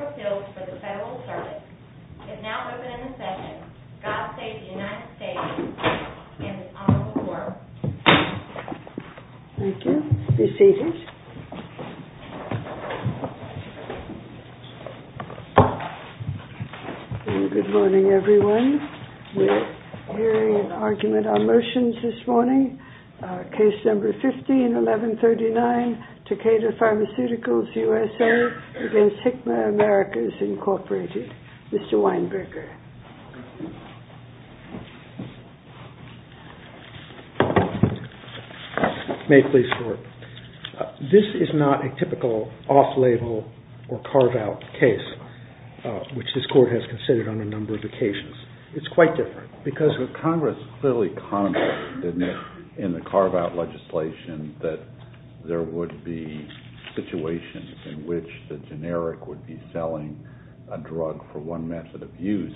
The United States Court of Appeals for the Federal Assertion is now open in the session. God save the United States and the Honorable Court. Thank you. Be seated. Good morning, everyone. We're hearing an argument on motions this morning. Case number 15, 1139, Takeda Pharmaceuticals, USA, against Hikma Americas, Incorporated. Mr. Weinberger. May it please the Court. This is not a typical off-label or carve-out case, which this Court has considered on a number of occasions. Congress clearly commented in the carve-out legislation that there would be situations in which the generic would be selling a drug for one method of use,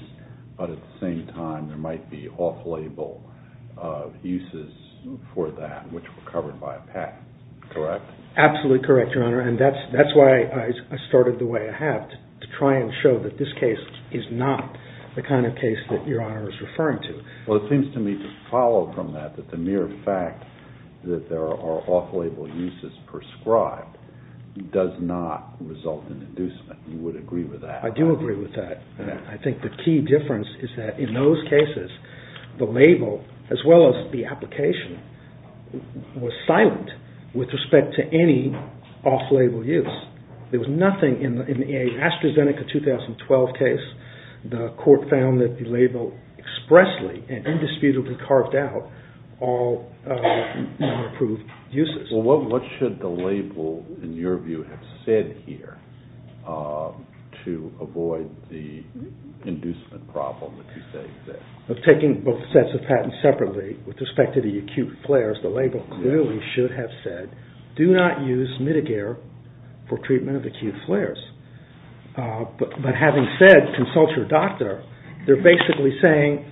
but at the same time there might be off-label uses for that, which were covered by a patent. Correct? Absolutely correct, Your Honor, and that's why I started the way I have, to try and show that this case is not the kind of case that Your Honor is referring to. Well, it seems to me to follow from that that the mere fact that there are off-label uses prescribed does not result in inducement. You would agree with that? I do agree with that. I think the key difference is that in those cases, the label, as well as the application, was silent with respect to any off-label use. There was nothing in the AstraZeneca 2012 case, the Court found that the label expressly and indisputably carved out all non-approved uses. Well, what should the label, in your view, have said here to avoid the inducement problem that you say exists? Taking both sets of patents separately, with respect to the acute flares, the label clearly should have said, do not use Mitigare for treatment of acute flares. But having said, consult your doctor, they're basically saying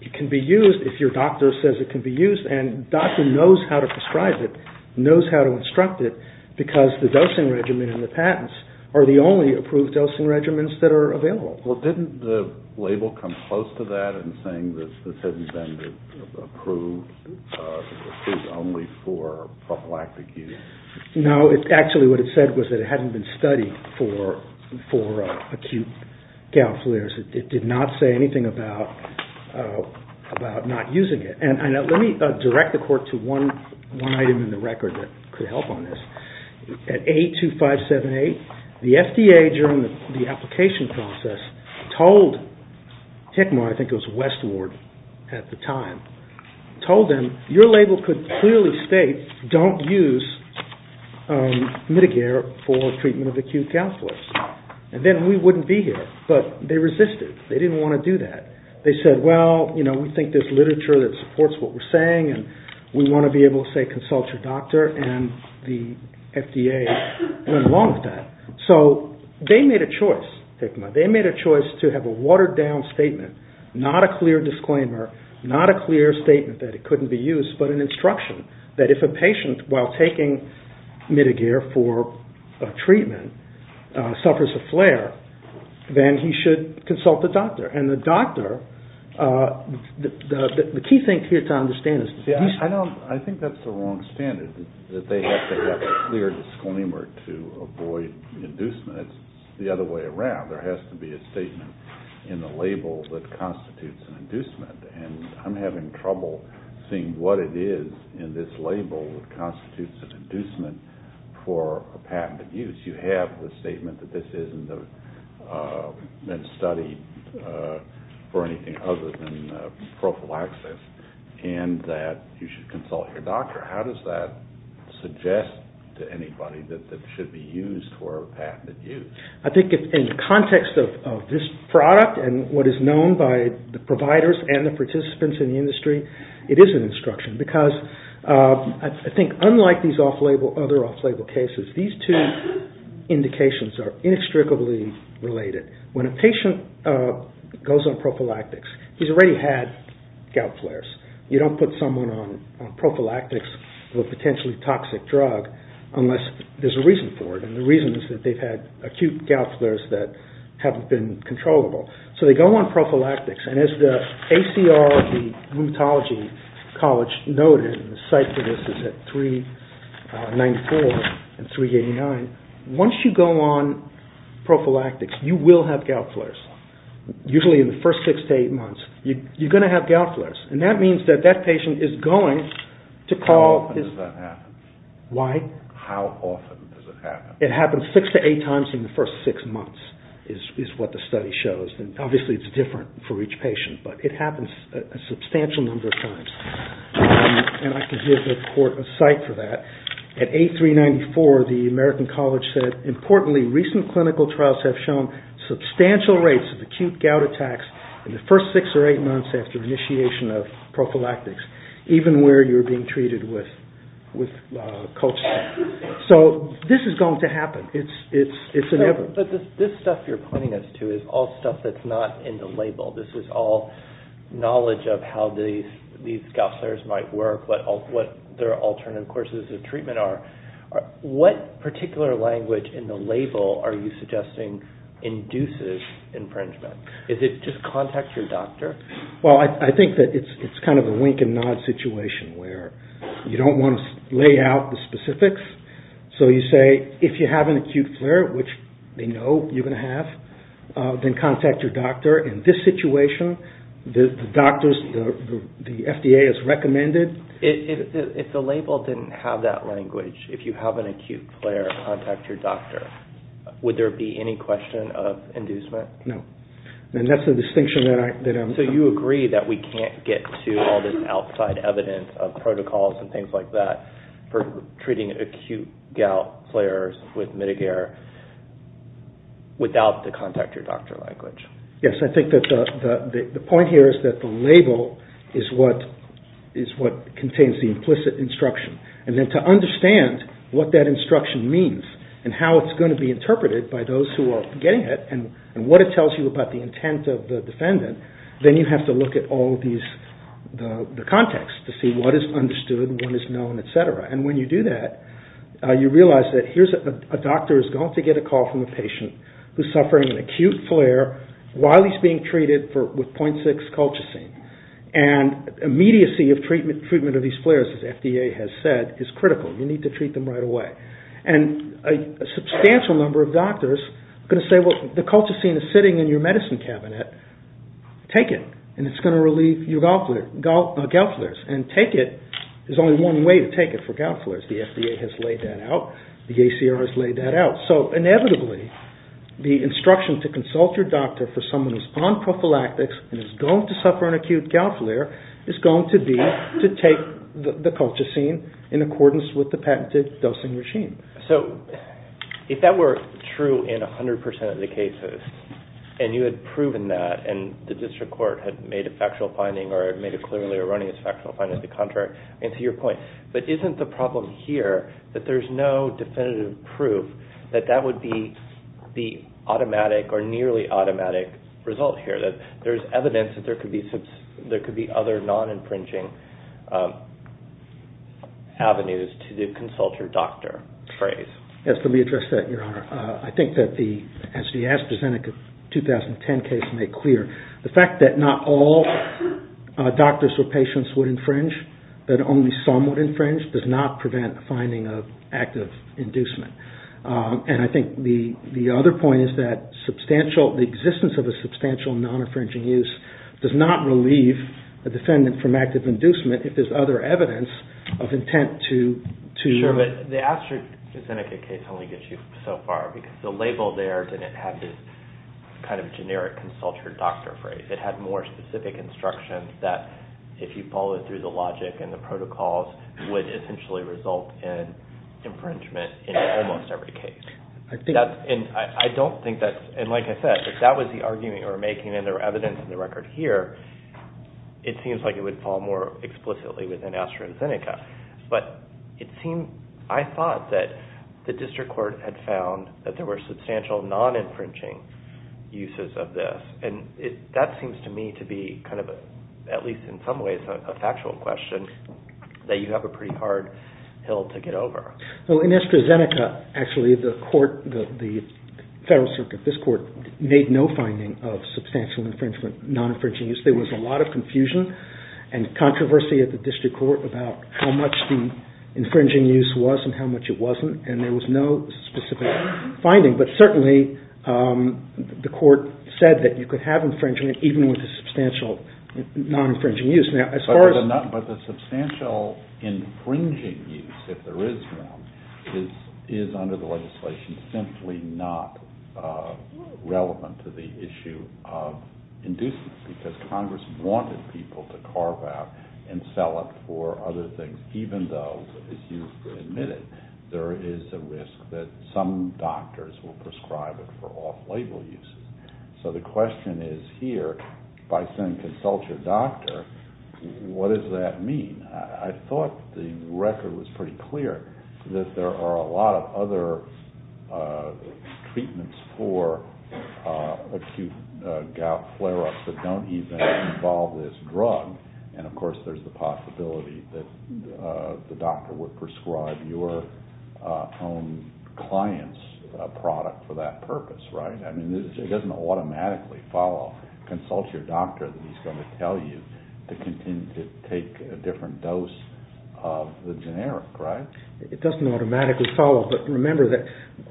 it can be used if your doctor says it can be used. And the doctor knows how to prescribe it, knows how to instruct it, because the dosing regimen and the patents are the only approved dosing regimens that are available. Well, didn't the label come close to that in saying that this hadn't been approved only for prophylactic use? No, actually what it said was that it hadn't been studied for acute gout flares. It did not say anything about not using it. And let me direct the Court to one item in the record that could help on this. At 82578, the FDA, during the application process, told Tecmo, I think it was Westward at the time, told them, your label could clearly state, don't use Mitigare for treatment of acute gout flares. And then we wouldn't be here. But they resisted. They didn't want to do that. They said, well, you know, we think there's literature that supports what we're saying, and we want to be able to say consult your doctor, and the FDA went along with that. So they made a choice, Tecmo. They made a choice to have a watered-down statement, not a clear disclaimer, not a clear statement that it couldn't be used, but an instruction that if a patient, while taking Mitigare for treatment, suffers a flare, then he should consult the doctor. And the doctor, the key thing here to understand is that he's- I think that's the wrong standard, that they have to have a clear disclaimer to avoid inducement. It's the other way around. There has to be a statement in the label that constitutes an inducement. And I'm having trouble seeing what it is in this label that constitutes an inducement for a patent abuse. You have the statement that this isn't studied for anything other than prophylaxis, and that you should consult your doctor. How does that suggest to anybody that it should be used for a patented use? I think in the context of this product and what is known by the providers and the participants in the industry, it is an instruction. Because I think unlike these other off-label cases, these two indications are inextricably related. When a patient goes on prophylactics, he's already had gout flares. You don't put someone on prophylactics, a potentially toxic drug, unless there's a reason for it. And the reason is that they've had acute gout flares that haven't been controllable. So they go on prophylactics, and as the ACR of the Rheumatology College noted, and the site for this is at 394 and 389, once you go on prophylactics, you will have gout flares. Usually in the first six to eight months, you're going to have gout flares. And that means that that patient is going to call his... How often does that happen? Why? How often does it happen? It happens six to eight times in the first six months is what the study shows. And obviously it's different for each patient, but it happens a substantial number of times. And I can give the report a site for that. At 8394, the American College said, Importantly, recent clinical trials have shown substantial rates of acute gout attacks in the first six or eight months after initiation of prophylactics, even where you're being treated with colchicine. So this is going to happen. It's inevitable. But this stuff you're pointing us to is all stuff that's not in the label. This is all knowledge of how these gout flares might work, what their alternative courses of treatment are. What particular language in the label are you suggesting induces infringement? Is it just contact your doctor? Well, I think that it's kind of a wink and nod situation where you don't want to lay out the specifics. So you say, if you have an acute flare, which they know you're going to have, then contact your doctor. In this situation, the FDA has recommended... If the label didn't have that language, if you have an acute flare, contact your doctor, would there be any question of inducement? No. And that's the distinction that I'm... So you agree that we can't get to all this outside evidence of protocols and things like that for treating acute gout flares with Mitigare without the contact your doctor language? Yes. I think that the point here is that the label is what contains the implicit instruction. And then to understand what that instruction means and how it's going to be interpreted by those who are getting it and what it tells you about the intent of the defendant, then you have to look at all of the context to see what is understood, what is known, et cetera. And when you do that, you realize that a doctor is going to get a call from a patient who's suffering an acute flare while he's being treated with 0.6 Colchicine. And immediacy of treatment of these flares, as FDA has said, is critical. You need to treat them right away. And a substantial number of doctors are going to say, well, the Colchicine is sitting in your medicine cabinet. Take it, and it's going to relieve your gout flares. And take it, there's only one way to take it for gout flares. The FDA has laid that out. The ACR has laid that out. So inevitably, the instruction to consult your doctor for someone who's on prophylactics and is going to suffer an acute gout flare is going to be to take the Colchicine in accordance with the patented dosing regime. So if that were true in 100% of the cases, and you had proven that, and the district court had made a factual finding or had made it clearly erroneous factual finding as the contrary, and to your point, but isn't the problem here that there's no definitive proof that that would be the automatic or nearly automatic result here, that there's evidence that there could be other non-infringing avenues to consult your doctor phrase? Yes, let me address that, Your Honor. I think that as the AstraZeneca 2010 case made clear, the fact that not all doctors or patients would infringe, that only some would infringe, does not prevent a finding of active inducement. And I think the other point is that the existence of a substantial non-infringing use does not relieve a defendant from active inducement if there's other evidence of intent to... because the label there didn't have this kind of generic consult your doctor phrase. It had more specific instructions that, if you followed through the logic and the protocols, would essentially result in infringement in almost every case. And I don't think that's... and like I said, if that was the argument you were making and there were evidence in the record here, it seems like it would fall more explicitly within AstraZeneca. But it seems... I thought that the district court had found that there were substantial non-infringing uses of this. And that seems to me to be kind of, at least in some ways, a factual question that you have a pretty hard hill to get over. Well, in AstraZeneca, actually, the court, the federal circuit, this court, made no finding of substantial non-infringing use. There was a lot of confusion and controversy at the district court about how much the infringing use was and how much it wasn't. And there was no specific finding. But certainly, the court said that you could have infringement even with a substantial non-infringing use. But the substantial infringing use, if there is one, is under the legislation simply not relevant to the issue of inducing it. Because Congress wanted people to carve out and sell it for other things, even though, as you admitted, there is a risk that some doctors will prescribe it for off-label uses. So the question is here, by saying consult your doctor, what does that mean? I thought the record was pretty clear that there are a lot of other treatments for acute gout flare-ups that don't even involve this drug. And, of course, there's the possibility that the doctor would prescribe your own client's product for that purpose, right? I mean, it doesn't automatically follow consult your doctor that he's going to tell you to continue to take a different dose of the generic, right? It doesn't automatically follow. But remember that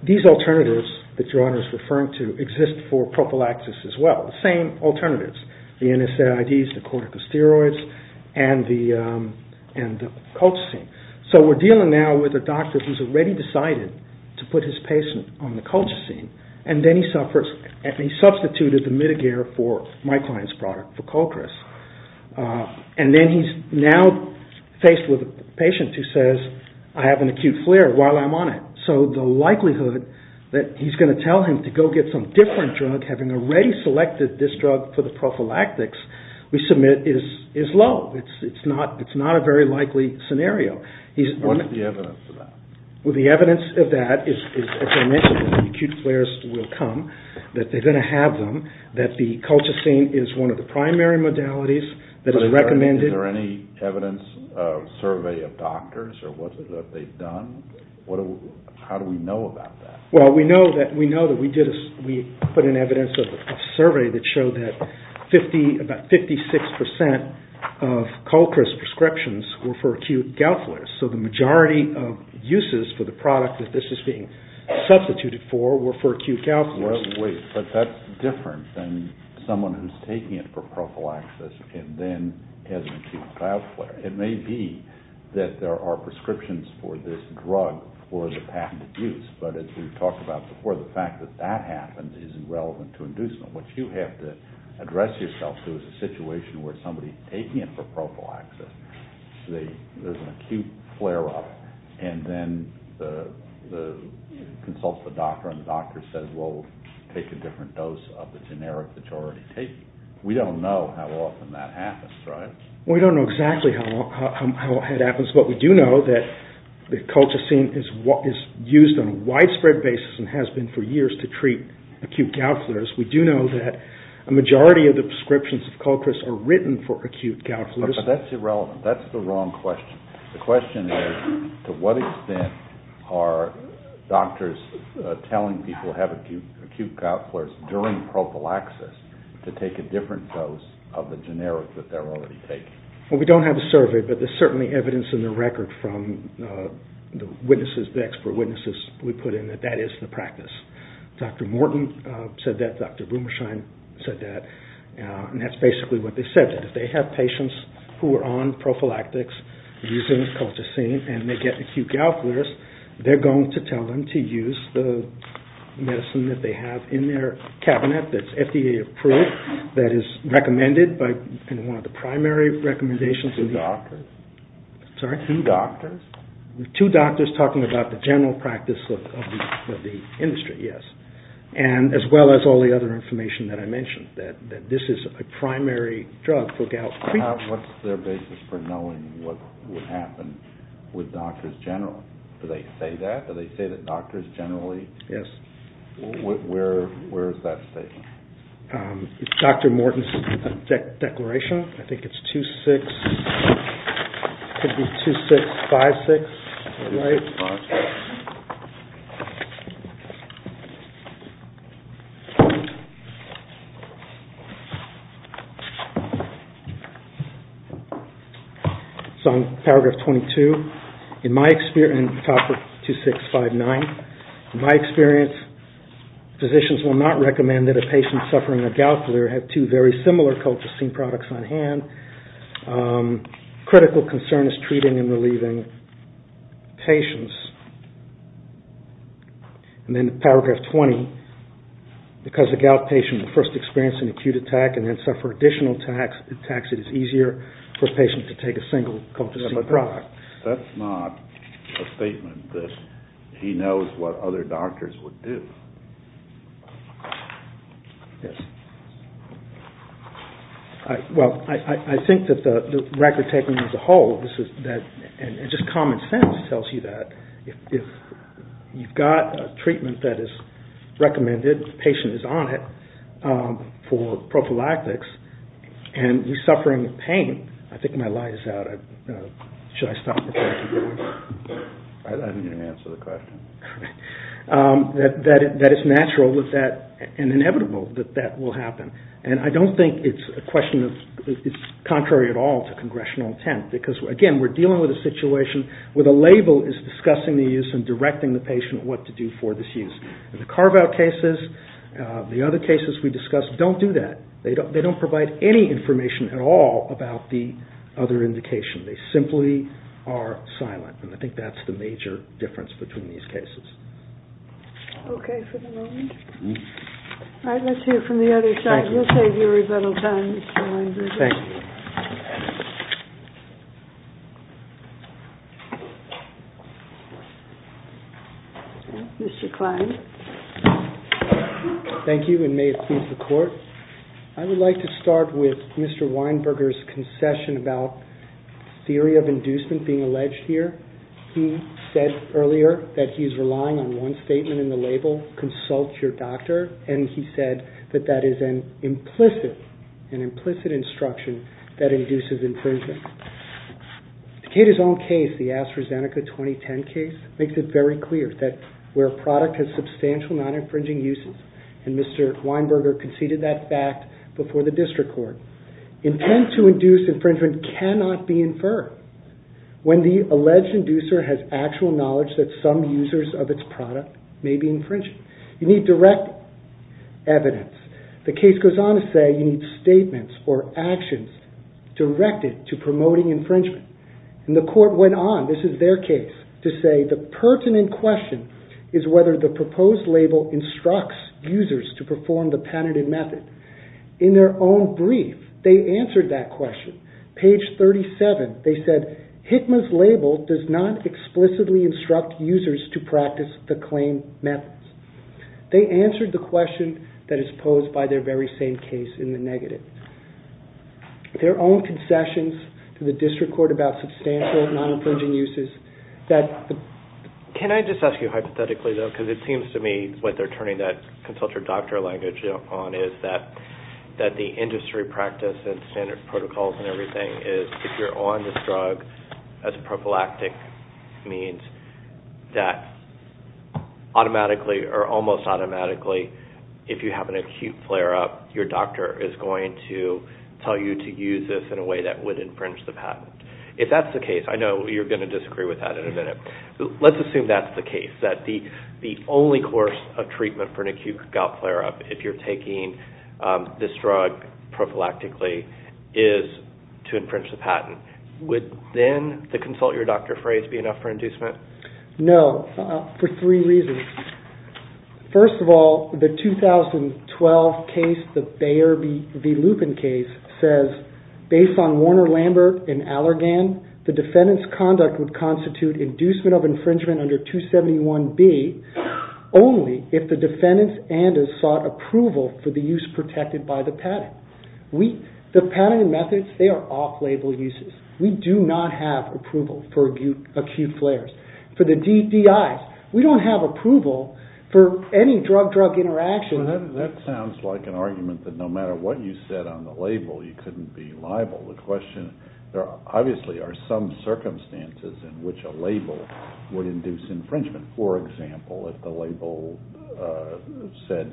these alternatives that your Honor is referring to exist for prophylaxis as well, the same alternatives, the NSAIDs, the corticosteroids, and the colchicine. So we're dealing now with a doctor who's already decided to put his patient on the colchicine, and then he substituted the Mitagir for my client's product, for Colchris. And then he's now faced with a patient who says, I have an acute flare while I'm on it. So the likelihood that he's going to tell him to go get some different drug, having already selected this drug for the prophylactics we submit is low. It's not a very likely scenario. What is the evidence of that? Well, the evidence of that is, as I mentioned, acute flares will come, that they're going to have them, that the colchicine is one of the primary modalities that is recommended. Is there any evidence, survey of doctors, or what they've done? How do we know about that? Well, we know that we put in evidence of a survey that showed that about 56% of Colchris prescriptions were for acute gout flares. So the majority of uses for the product that this is being substituted for were for acute gout flares. Wait, but that's different than someone who's taking it for prophylaxis and then has an acute gout flare. It may be that there are prescriptions for this drug for the patented use, but as we've talked about before, the fact that that happens is irrelevant to inducement. What you have to address yourself to is a situation where somebody's taking it for prophylaxis, there's an acute flare-up, and then consults the doctor, and the doctor says, well, take a different dose of the generic that you're already taking. We don't know how often that happens, right? We don't know exactly how it happens, but we do know that colchicine is used on a widespread basis and has been for years to treat acute gout flares. We do know that a majority of the prescriptions of Colchris are written for acute gout flares. But that's irrelevant. That's the wrong question. The question is, to what extent are doctors telling people to have acute gout flares during prophylaxis to take a different dose of the generic that they're already taking? Well, we don't have a survey, but there's certainly evidence in the record from the expert witnesses we put in that that is the practice. Dr. Morton said that, Dr. Blumershine said that, and that's basically what they said, that if they have patients who are on prophylactics using colchicine and they get acute gout flares, they're going to tell them to use the medicine that they have in their cabinet that's FDA approved, that is recommended by one of the primary recommendations. Two doctors? Sorry? Two doctors? Two doctors talking about the general practice of the industry, yes. And as well as all the other information that I mentioned, that this is a primary drug for gout. What's their basis for knowing what would happen with doctors in general? Do they say that? Do they say that doctors generally... Yes. Where is that statement? Dr. Morton's declaration, I think it's 2-6, it could be 2-6-5-6. All right. So in paragraph 22, in my experience, in topic 2-6-5-9, in my experience, physicians will not recommend that a patient suffering a gout flare have two very similar colchicine products on hand. Critical concern is treating and relieving patients. And then paragraph 20, because a gout patient will first experience an acute attack and then suffer additional attacks, it is easier for a patient to take a single colchicine product. That's not a statement that he knows what other doctors would do. Yes. Well, I think that the record taking as a whole, and just common sense tells you that, if you've got a treatment that is recommended, the patient is on it, for prophylactics, and you're suffering pain, I think my light is out. Should I stop the question? I didn't even answer the question. That it's natural and inevitable that that will happen. And I don't think it's contrary at all to congressional intent. Because, again, we're dealing with a situation where the label is discussing the use and directing the patient what to do for this use. And the carve-out cases, the other cases we discussed, don't do that. They don't provide any information at all about the other indication. They simply are silent, and I think that's the major difference between these cases. Okay, for the moment. All right, let's hear from the other side. Thank you, and may it please the Court. I would like to start with Mr. Weinberger's concession about theory of inducement being alleged here. He said earlier that he's relying on one statement in the label, consult your doctor, and he said that that is an implicit instruction that induces infringement. Decatur's own case, the AstraZeneca 2010 case, makes it very clear that where a product has substantial non-infringing uses, and Mr. Weinberger conceded that fact before the district court, intent to induce infringement cannot be inferred when the alleged inducer has actual knowledge that some users of its product may be infringing. You need direct evidence. The case goes on to say you need statements or actions directed to promoting infringement. And the court went on, this is their case, to say the pertinent question is whether the proposed label instructs users to perform the penitent method. In their own brief, they answered that question. Page 37, they said HICMA's label does not explicitly instruct users to practice the claim methods. They answered the question that is posed by their very same case in the negative. Their own concessions to the district court about substantial non-infringing uses. Can I just ask you hypothetically, though, because it seems to me what they're turning that consult your doctor language on is that the industry practice and standard protocols and everything is if you're on this drug as a prophylactic means that almost automatically, if you have an acute flare-up, your doctor is going to tell you to use this in a way that would infringe the patent. If that's the case, I know you're going to disagree with that in a minute. Let's assume that's the case, that the only course of treatment for an acute gout flare-up if you're taking this drug prophylactically is to infringe the patent. Would then the consult your doctor phrase be enough for inducement? No, for three reasons. First of all, the 2012 case, the Bayer v. Lupin case, says based on Warner-Lambert and Allergan, the defendant's conduct would constitute inducement of infringement under 271B only if the defendant's andes sought approval for the use protected by the patent. The patent methods, they are off-label uses. We do not have approval for acute flares. For the DDIs, we don't have approval for any drug-drug interaction. That sounds like an argument that no matter what you said on the label, you couldn't be liable. The question, there obviously are some circumstances in which a label would induce infringement. For example, if the label said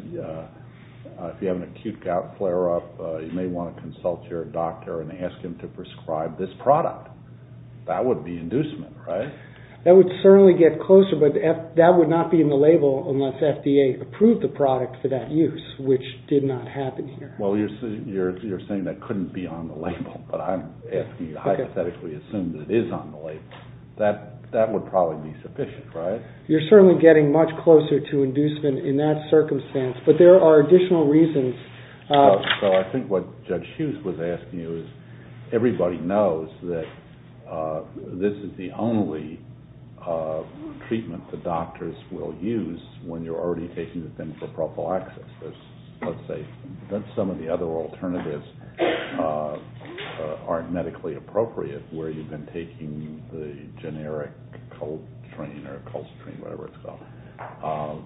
if you have an acute gout flare-up, you may want to consult your doctor and ask him to prescribe this product. That would be inducement, right? That would certainly get closer, but that would not be in the label unless FDA approved the product for that use, which did not happen here. You're saying that couldn't be on the label, but I'm asking you hypothetically to assume that it is on the label. That would probably be sufficient, right? You're certainly getting much closer to inducement in that circumstance, but there are additional reasons. I think what Judge Hughes was asking you is everybody knows that this is the only treatment the doctors will use when you're already taking the thing for prophylaxis. Some of the other alternatives aren't medically appropriate where you've been taking the generic Colstrain or whatever it's called,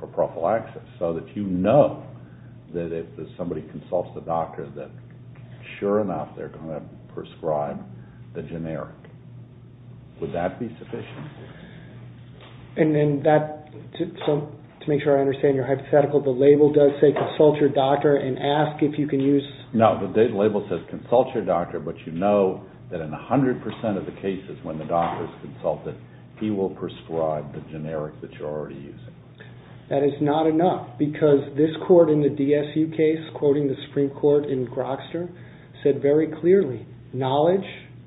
for prophylaxis, so that you know that if somebody consults the doctor that sure enough they're going to prescribe the generic. Would that be sufficient? To make sure I understand your hypothetical, the label does say consult your doctor and ask if you can use... No, the label says consult your doctor, but you know that in 100 percent of the cases when the doctor is consulted, he will prescribe the generic that you're already using. That is not enough, because this court in the DSU case, quoting the Supreme Court in Grokster, said very clearly, knowledge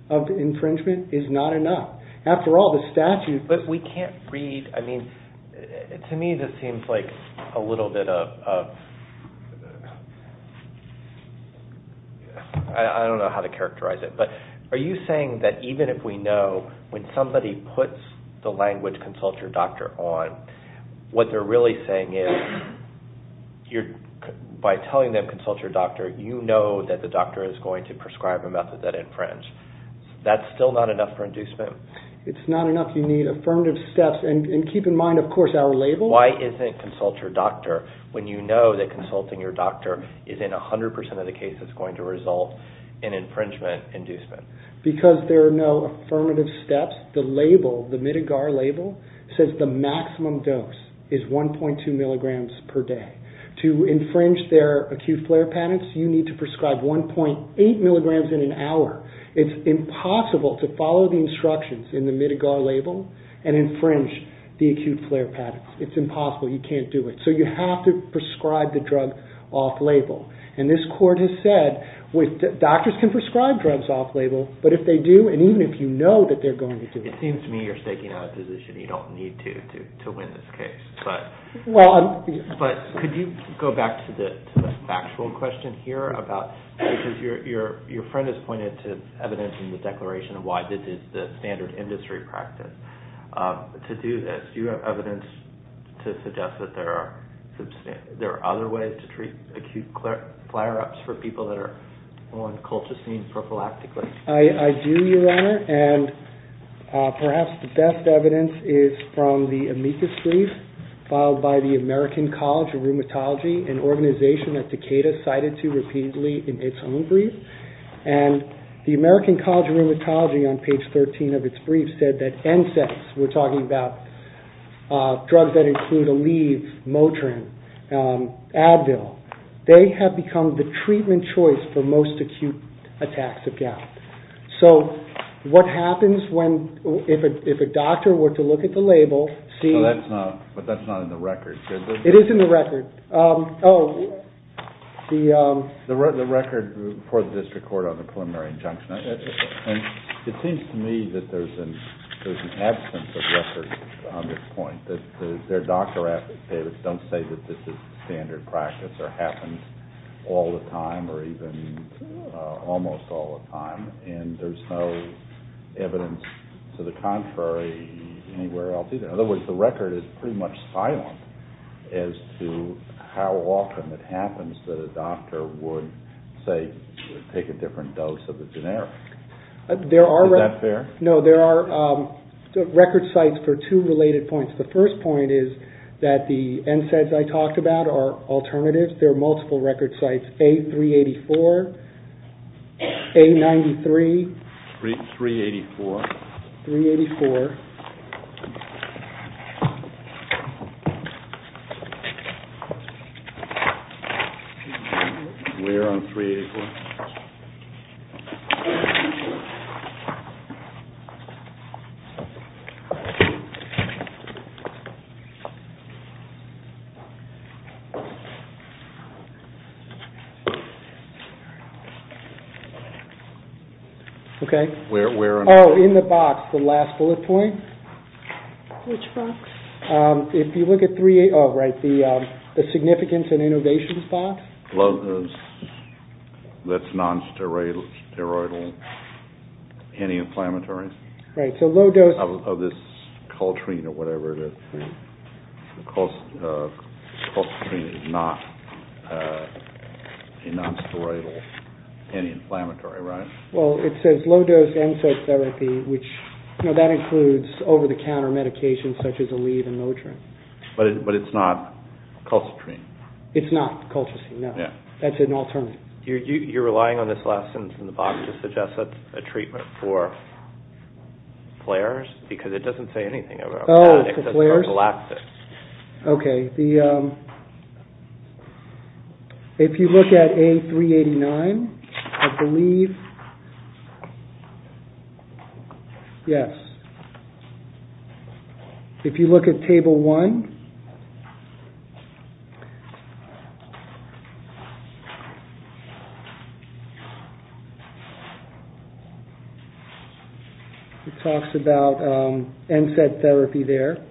of infringement is not enough. After all, the statute... I don't know how to characterize it, but are you saying that even if we know when somebody puts the language consult your doctor on, what they're really saying is by telling them consult your doctor, you know that the doctor is going to prescribe a method that infringes. That's still not enough for inducement? It's not enough. You need affirmative steps, and keep in mind, of course, our label... Why isn't consult your doctor when you know that consulting your doctor is in 100 percent of the cases going to result in infringement inducement? Because there are no affirmative steps, the label, the Midigar label, says the maximum dose is 1.2 milligrams per day. To infringe their acute flare patterns, you need to prescribe 1.8 milligrams in an hour. It's impossible to follow the instructions in the Midigar label and infringe the acute flare patterns. It's impossible. You can't do it. So you have to prescribe the drug off-label. Doctors can prescribe drugs off-label, but if they do, and even if you know that they're going to do it... It seems to me you're staking out a position you don't need to win this case. But could you go back to the factual question here about... Because your friend has pointed to evidence in the declaration of why this is the standard industry practice to do this. Do you have evidence to suggest that there are other ways to treat acute flare-ups for people that are on colchicine prophylactically? I do, Your Honor, and perhaps the best evidence is from the amicus brief filed by the American College of Rheumatology, an organization that Takeda cited to repeatedly in its own brief. And the American College of Rheumatology on page 13 of its brief said that NSAIDs, we're talking about drugs that include Aleve, Motrin, Advil, they have become the treatment choice for most acute attacks of gout. So what happens if a doctor were to look at the label... But that's not in the record, is it? It is in the record. The record for the district court on the preliminary injunction. It seems to me that there's an absence of record on this point. Their doctor advocates don't say that this is standard practice or happens all the time or even almost all the time. And there's no evidence to the contrary anywhere else either. In other words, the record is pretty much silent as to how often it happens that a doctor would take a different dose of the generic. Is that fair? No, there are record sites for two related points. The first point is that the NSAIDs I talked about are alternatives. There are multiple record sites. A384, A93, 384. We're on 384. Okay. Oh, in the box, the last bullet point. The significance and innovations box. That's non-steroidal anti-inflammatory. Of this Coltrane or whatever it is. Coltrane is not a non-steroidal anti-inflammatory, right? That includes over-the-counter medications such as Aleve and Motrin. But it's not Coltrane? It's not Coltrane, no. That's an alternative. You're relying on this last sentence in the box to suggest a treatment for flares? Because it doesn't say anything about that. Okay. If you look at A389, I believe yes. If you look at Table 1, it talks about NSAID therapy there.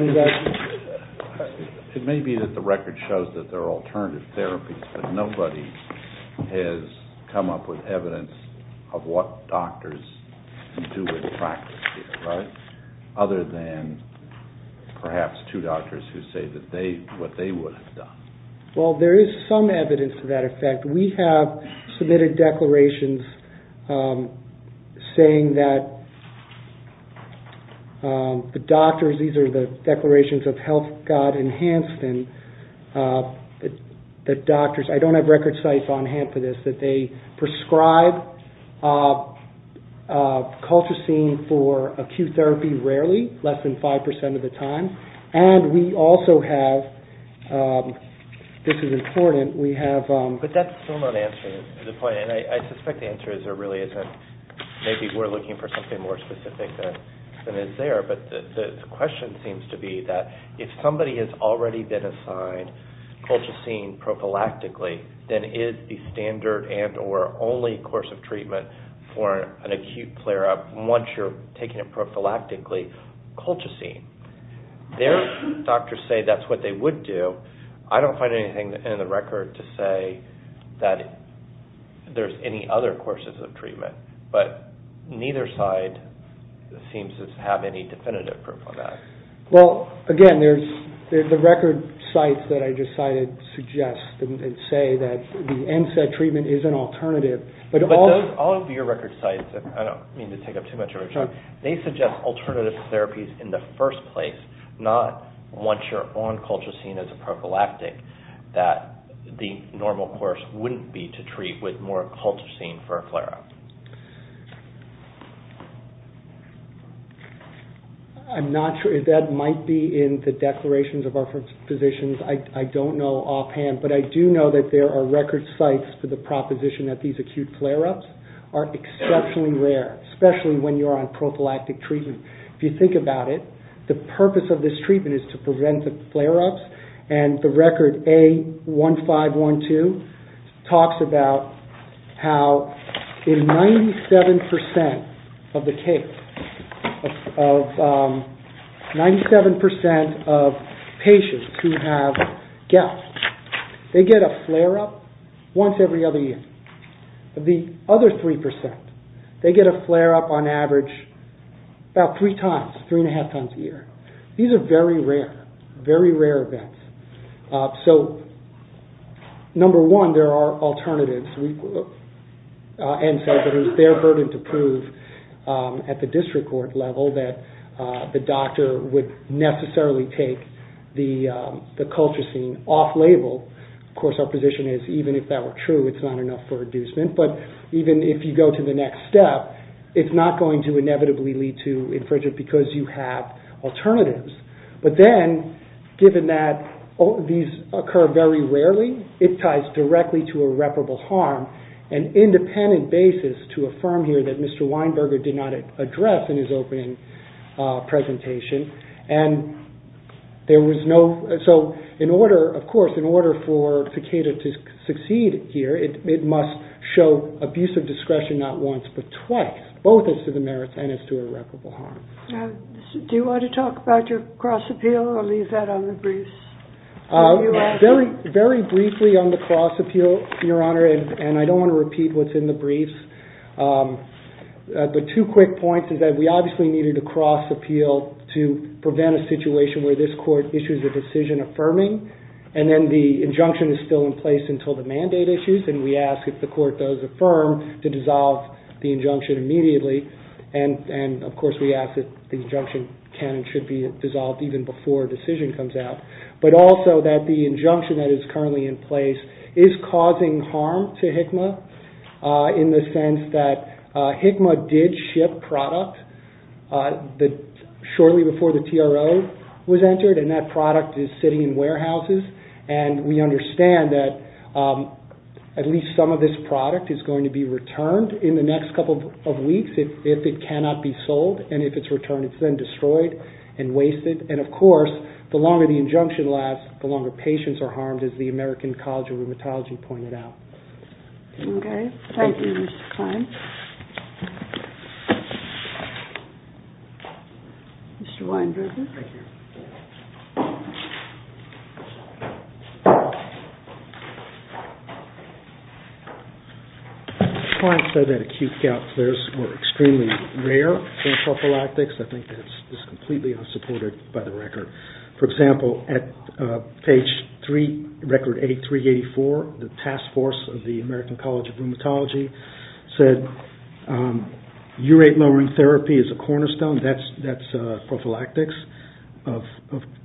It may be that the FDA has come up with evidence of what doctors can do with practice here, right? Other than perhaps two doctors who say what they would have done. Well, there is some evidence to that effect. We have submitted declarations saying that the doctors, these are the declarations of that they prescribe Coltracine for acute therapy rarely, less than 5% of the time. And we also have this is important, we have... I suspect the answer is there really isn't. Maybe we're looking for something more specific than is there. But the question seems to be that if somebody has already been assigned Coltracine prophylactically, then is the standard and or only course of treatment for an acute flare-up, once you're taking it prophylactically, Coltracine. There, doctors say that's what they would do. I don't find anything in the record to say that there's any other courses of treatment. But neither side seems to have any definitive proof on that. Well, again, there's the record sites that I just cited suggest and say that the NSAID treatment is an alternative. But all of your record sites, I don't mean to take up too much of your time, they suggest alternative therapies in the first place, not once you're on Coltracine as a prophylactic that the normal course wouldn't be to treat with more Coltracine for a flare-up. I'm not sure if that might be in the declarations of our physicians. I don't know offhand. But I do know that there are record sites for the proposition that these acute flare-ups are exceptionally rare, especially when you're on prophylactic treatment. If you think about it, the purpose of this treatment is to prevent the flare-ups and the record A1512 talks about how in 97% of the case, 97% of patients who have gout, they get a flare-up once every other year. The other 3%, they get a flare-up on average about three times, three and a half times a year. These are very rare, very rare events. So number one, there are alternatives. NSAID, it is their burden to prove at the district court level that the doctor would necessarily take the Coltracine off-label. Of course, our position is even if that were true, it's not enough for you to acknowledge it because you have alternatives. But then, given that these occur very rarely, it ties directly to irreparable harm. An independent basis to affirm here that Mr. Weinberger did not address in his opening presentation. Of course, in order for Takeda to succeed here, it must show abuse of discretion not once but twice, both as to the merits and as to irreparable harm. Do you want to talk about your cross-appeal or leave that on the briefs? Very briefly on the cross-appeal, Your Honor, and I don't want to repeat what's in the briefs. The two quick points is that we obviously needed a cross-appeal to prevent a situation where this court issues a decision affirming. Then the injunction is still in place until the mandate issues, and we ask if the court does affirm to dissolve the injunction immediately. Of course, we ask that the injunction can and should be dissolved even before a decision comes out. Also, that the injunction that is currently in place is causing harm to HCMA in the sense that HCMA did ship product shortly before the TRO was entered, and that product is sitting in warehouses. We understand that at least some of this product is going to be returned in the next couple of weeks if it cannot be sold. If it's returned, it's then destroyed and wasted. Of course, the longer the injunction lasts, the longer patients are harmed, as the American College of Rheumatology pointed out. Thank you, Mr. Kline. Mr. Kline said that acute gout flares were extremely rare in prophylactics. I think that's completely unsupported by the record. For example, at page 3, record 8384, the task force of the American College of Rheumatology said, urate lowering therapy is a cornerstone, that's prophylactics, of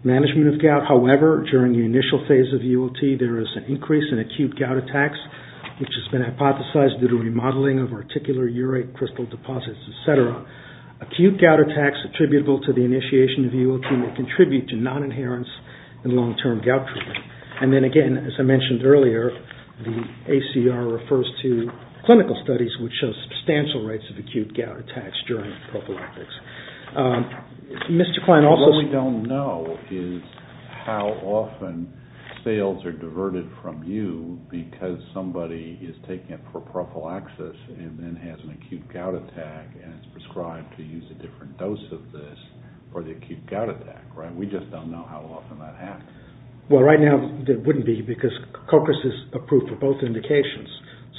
management of gout. However, during the initial phase of UOT, there is an increase in acute gout attacks, which has been hypothesized due to remodeling of articular urate crystal deposits, etc. Acute gout attacks attributable to the initiation of UOT may contribute to non-inherence in long-term gout treatment. And then again, as I mentioned earlier, the ACR refers to clinical studies which show substantial rates of acute gout attacks during prophylactics. Mr. Kline also said- What we don't know is how often sales are diverted from you because somebody is taking it for prophylaxis and then has an acute gout attack and it's prescribed to use a different dose of this for the acute gout attack, right? We just don't know how often that happens. Well, right now, it wouldn't be because Cochris is approved for both indications.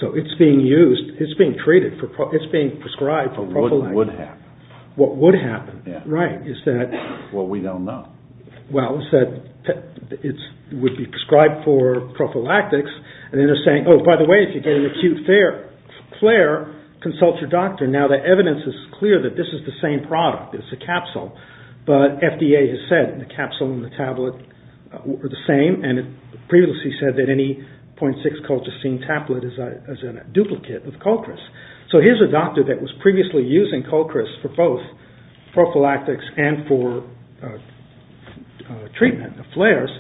So it's being used, it's being treated, it's being prescribed for prophylactics. But what would happen? What would happen, right, is that- Well, we don't know. Well, he said it would be prescribed for prophylactics and then they're saying, oh, by the way, if you get an acute flare, consult your doctor. Now, the evidence is clear that this is the same product. It's a capsule. But FDA has said the capsule and the tablet are the same. And it previously said that any 0.6 Colchicine tablet is a duplicate of Cochris. So here's a doctor that was previously using treatment, flares,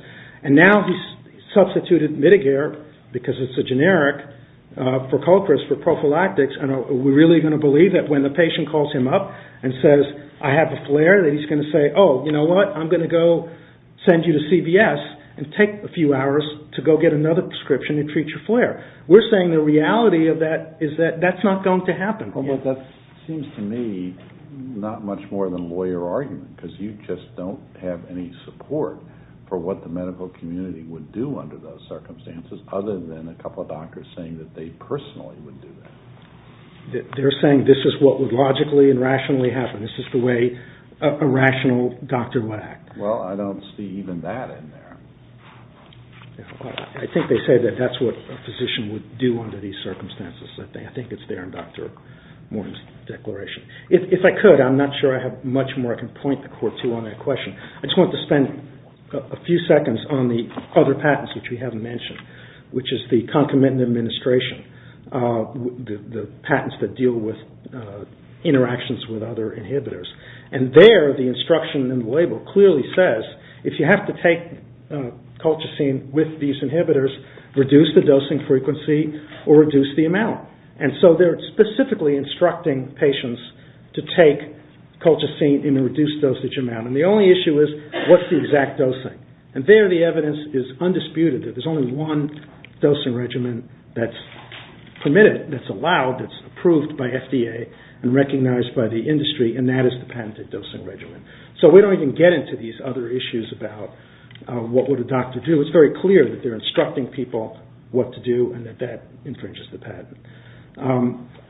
and now he's substituted Mitigare because it's a generic for Cochris for prophylactics. And are we really going to believe that when the patient calls him up and says, I have a flare, that he's going to say, oh, you know what, I'm going to go send you to CVS and take a few hours to go get another prescription to treat your flare. We're saying the reality of that is that that's not going to happen. Well, that seems to me not much more than lawyer argument because you just don't have any support for what the medical community would do under those circumstances other than a couple of doctors saying that they personally would do that. They're saying this is what would logically and rationally happen. This is the way a rational doctor would act. Well, I don't see even that in there. I think they say that that's what a physician would do under these circumstances. I think it's there in Dr. Morton's declaration. If I could, I'm not sure I have much more I can point the court to on that question. I just want to spend a few seconds on the other patents which we haven't mentioned, which is the Concomitant Administration, the patents that deal with interactions with other inhibitors. And there the instruction in the label clearly says if you have to take Colchicine with these and so they're specifically instructing patients to take Colchicine in a reduced dosage amount. And the only issue is what's the exact dosing? And there the evidence is undisputed that there's only one dosing regimen that's permitted, that's allowed, that's approved by FDA and recognized by the industry and that is the patented dosing regimen. So we don't even get into these other issues about what would a doctor do. So it's very clear that they're instructing people what to do and that that infringes the patent.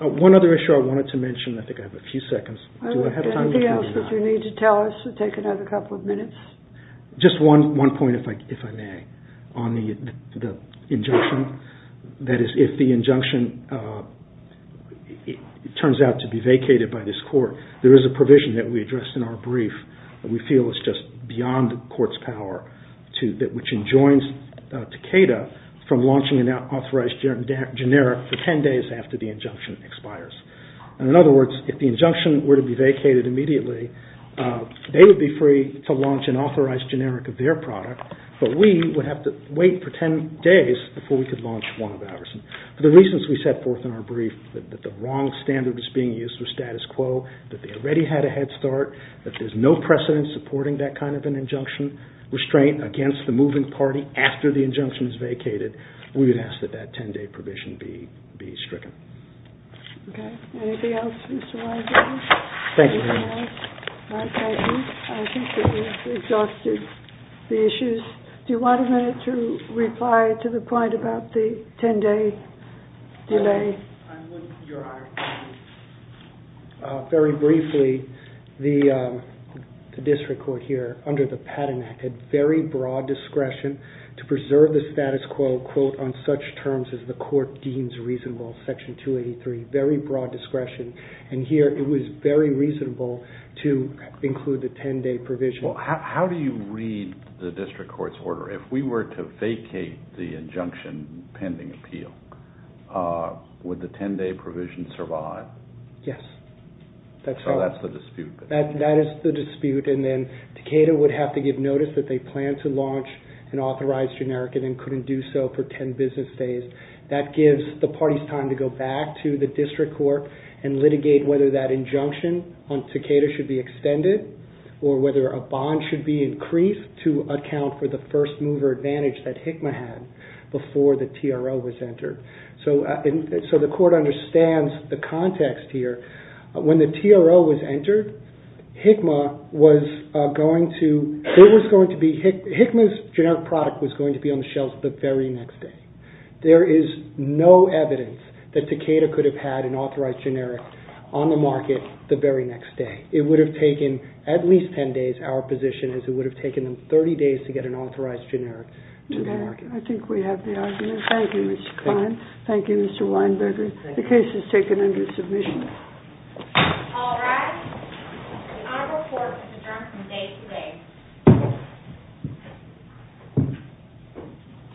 One other issue I wanted to mention, I think I have a few seconds. Just one point if I may, on the injunction. That is if the injunction turns out to be vacated by this court, there is a provision that we addressed in our brief that we feel is just beyond the court's power which enjoins Takeda from launching an authorized generic for 10 days after the injunction expires. In other words, if the injunction were to be vacated immediately, they would be free to launch an authorized generic of their product, but we would have to wait for 10 days before we could launch one of ours. For the reasons we set forth in our brief, that the wrong standard is being used for status quo, that they already had a head start, that there's no precedent supporting that kind of an injunction, restraint against the moving party after the injunction is vacated, we would ask that that 10 day provision be stricken. Thank you. Do you want a minute to reply to the point about the 10 day delay? Very briefly, the district court here under the Patent Act had very broad discretion to preserve the status quo, quote, on such terms as the court deems reasonable, section 283, very broad discretion, and here it was very reasonable to include the 10 day provision. Well, how do you read the district court's order? If we were to vacate the injunction pending appeal, would the 10 day provision survive? Yes. So that's the dispute. That is the dispute, and then Takeda would have to give notice that they planned to launch an authorized generic and then couldn't do so for 10 business days. That gives the parties time to go back to the district court and litigate whether that injunction on Takeda should be extended or whether a bond should be increased to account for the first mover advantage that HICMA had before the TRO was entered. So the court understands the context here. When the TRO was entered, HICMA was going to, HICMA's generic product was going to be on the shelves the very next day. There is no evidence that Takeda could have had an authorized generic on the market the very next day. It would have taken at least 10 days. Our position is it would have taken them 30 days to get an authorized generic to the market. I think we have the argument. Thank you, Mr. Klein. Thank you, Mr. Weinberger. The case is taken under submission.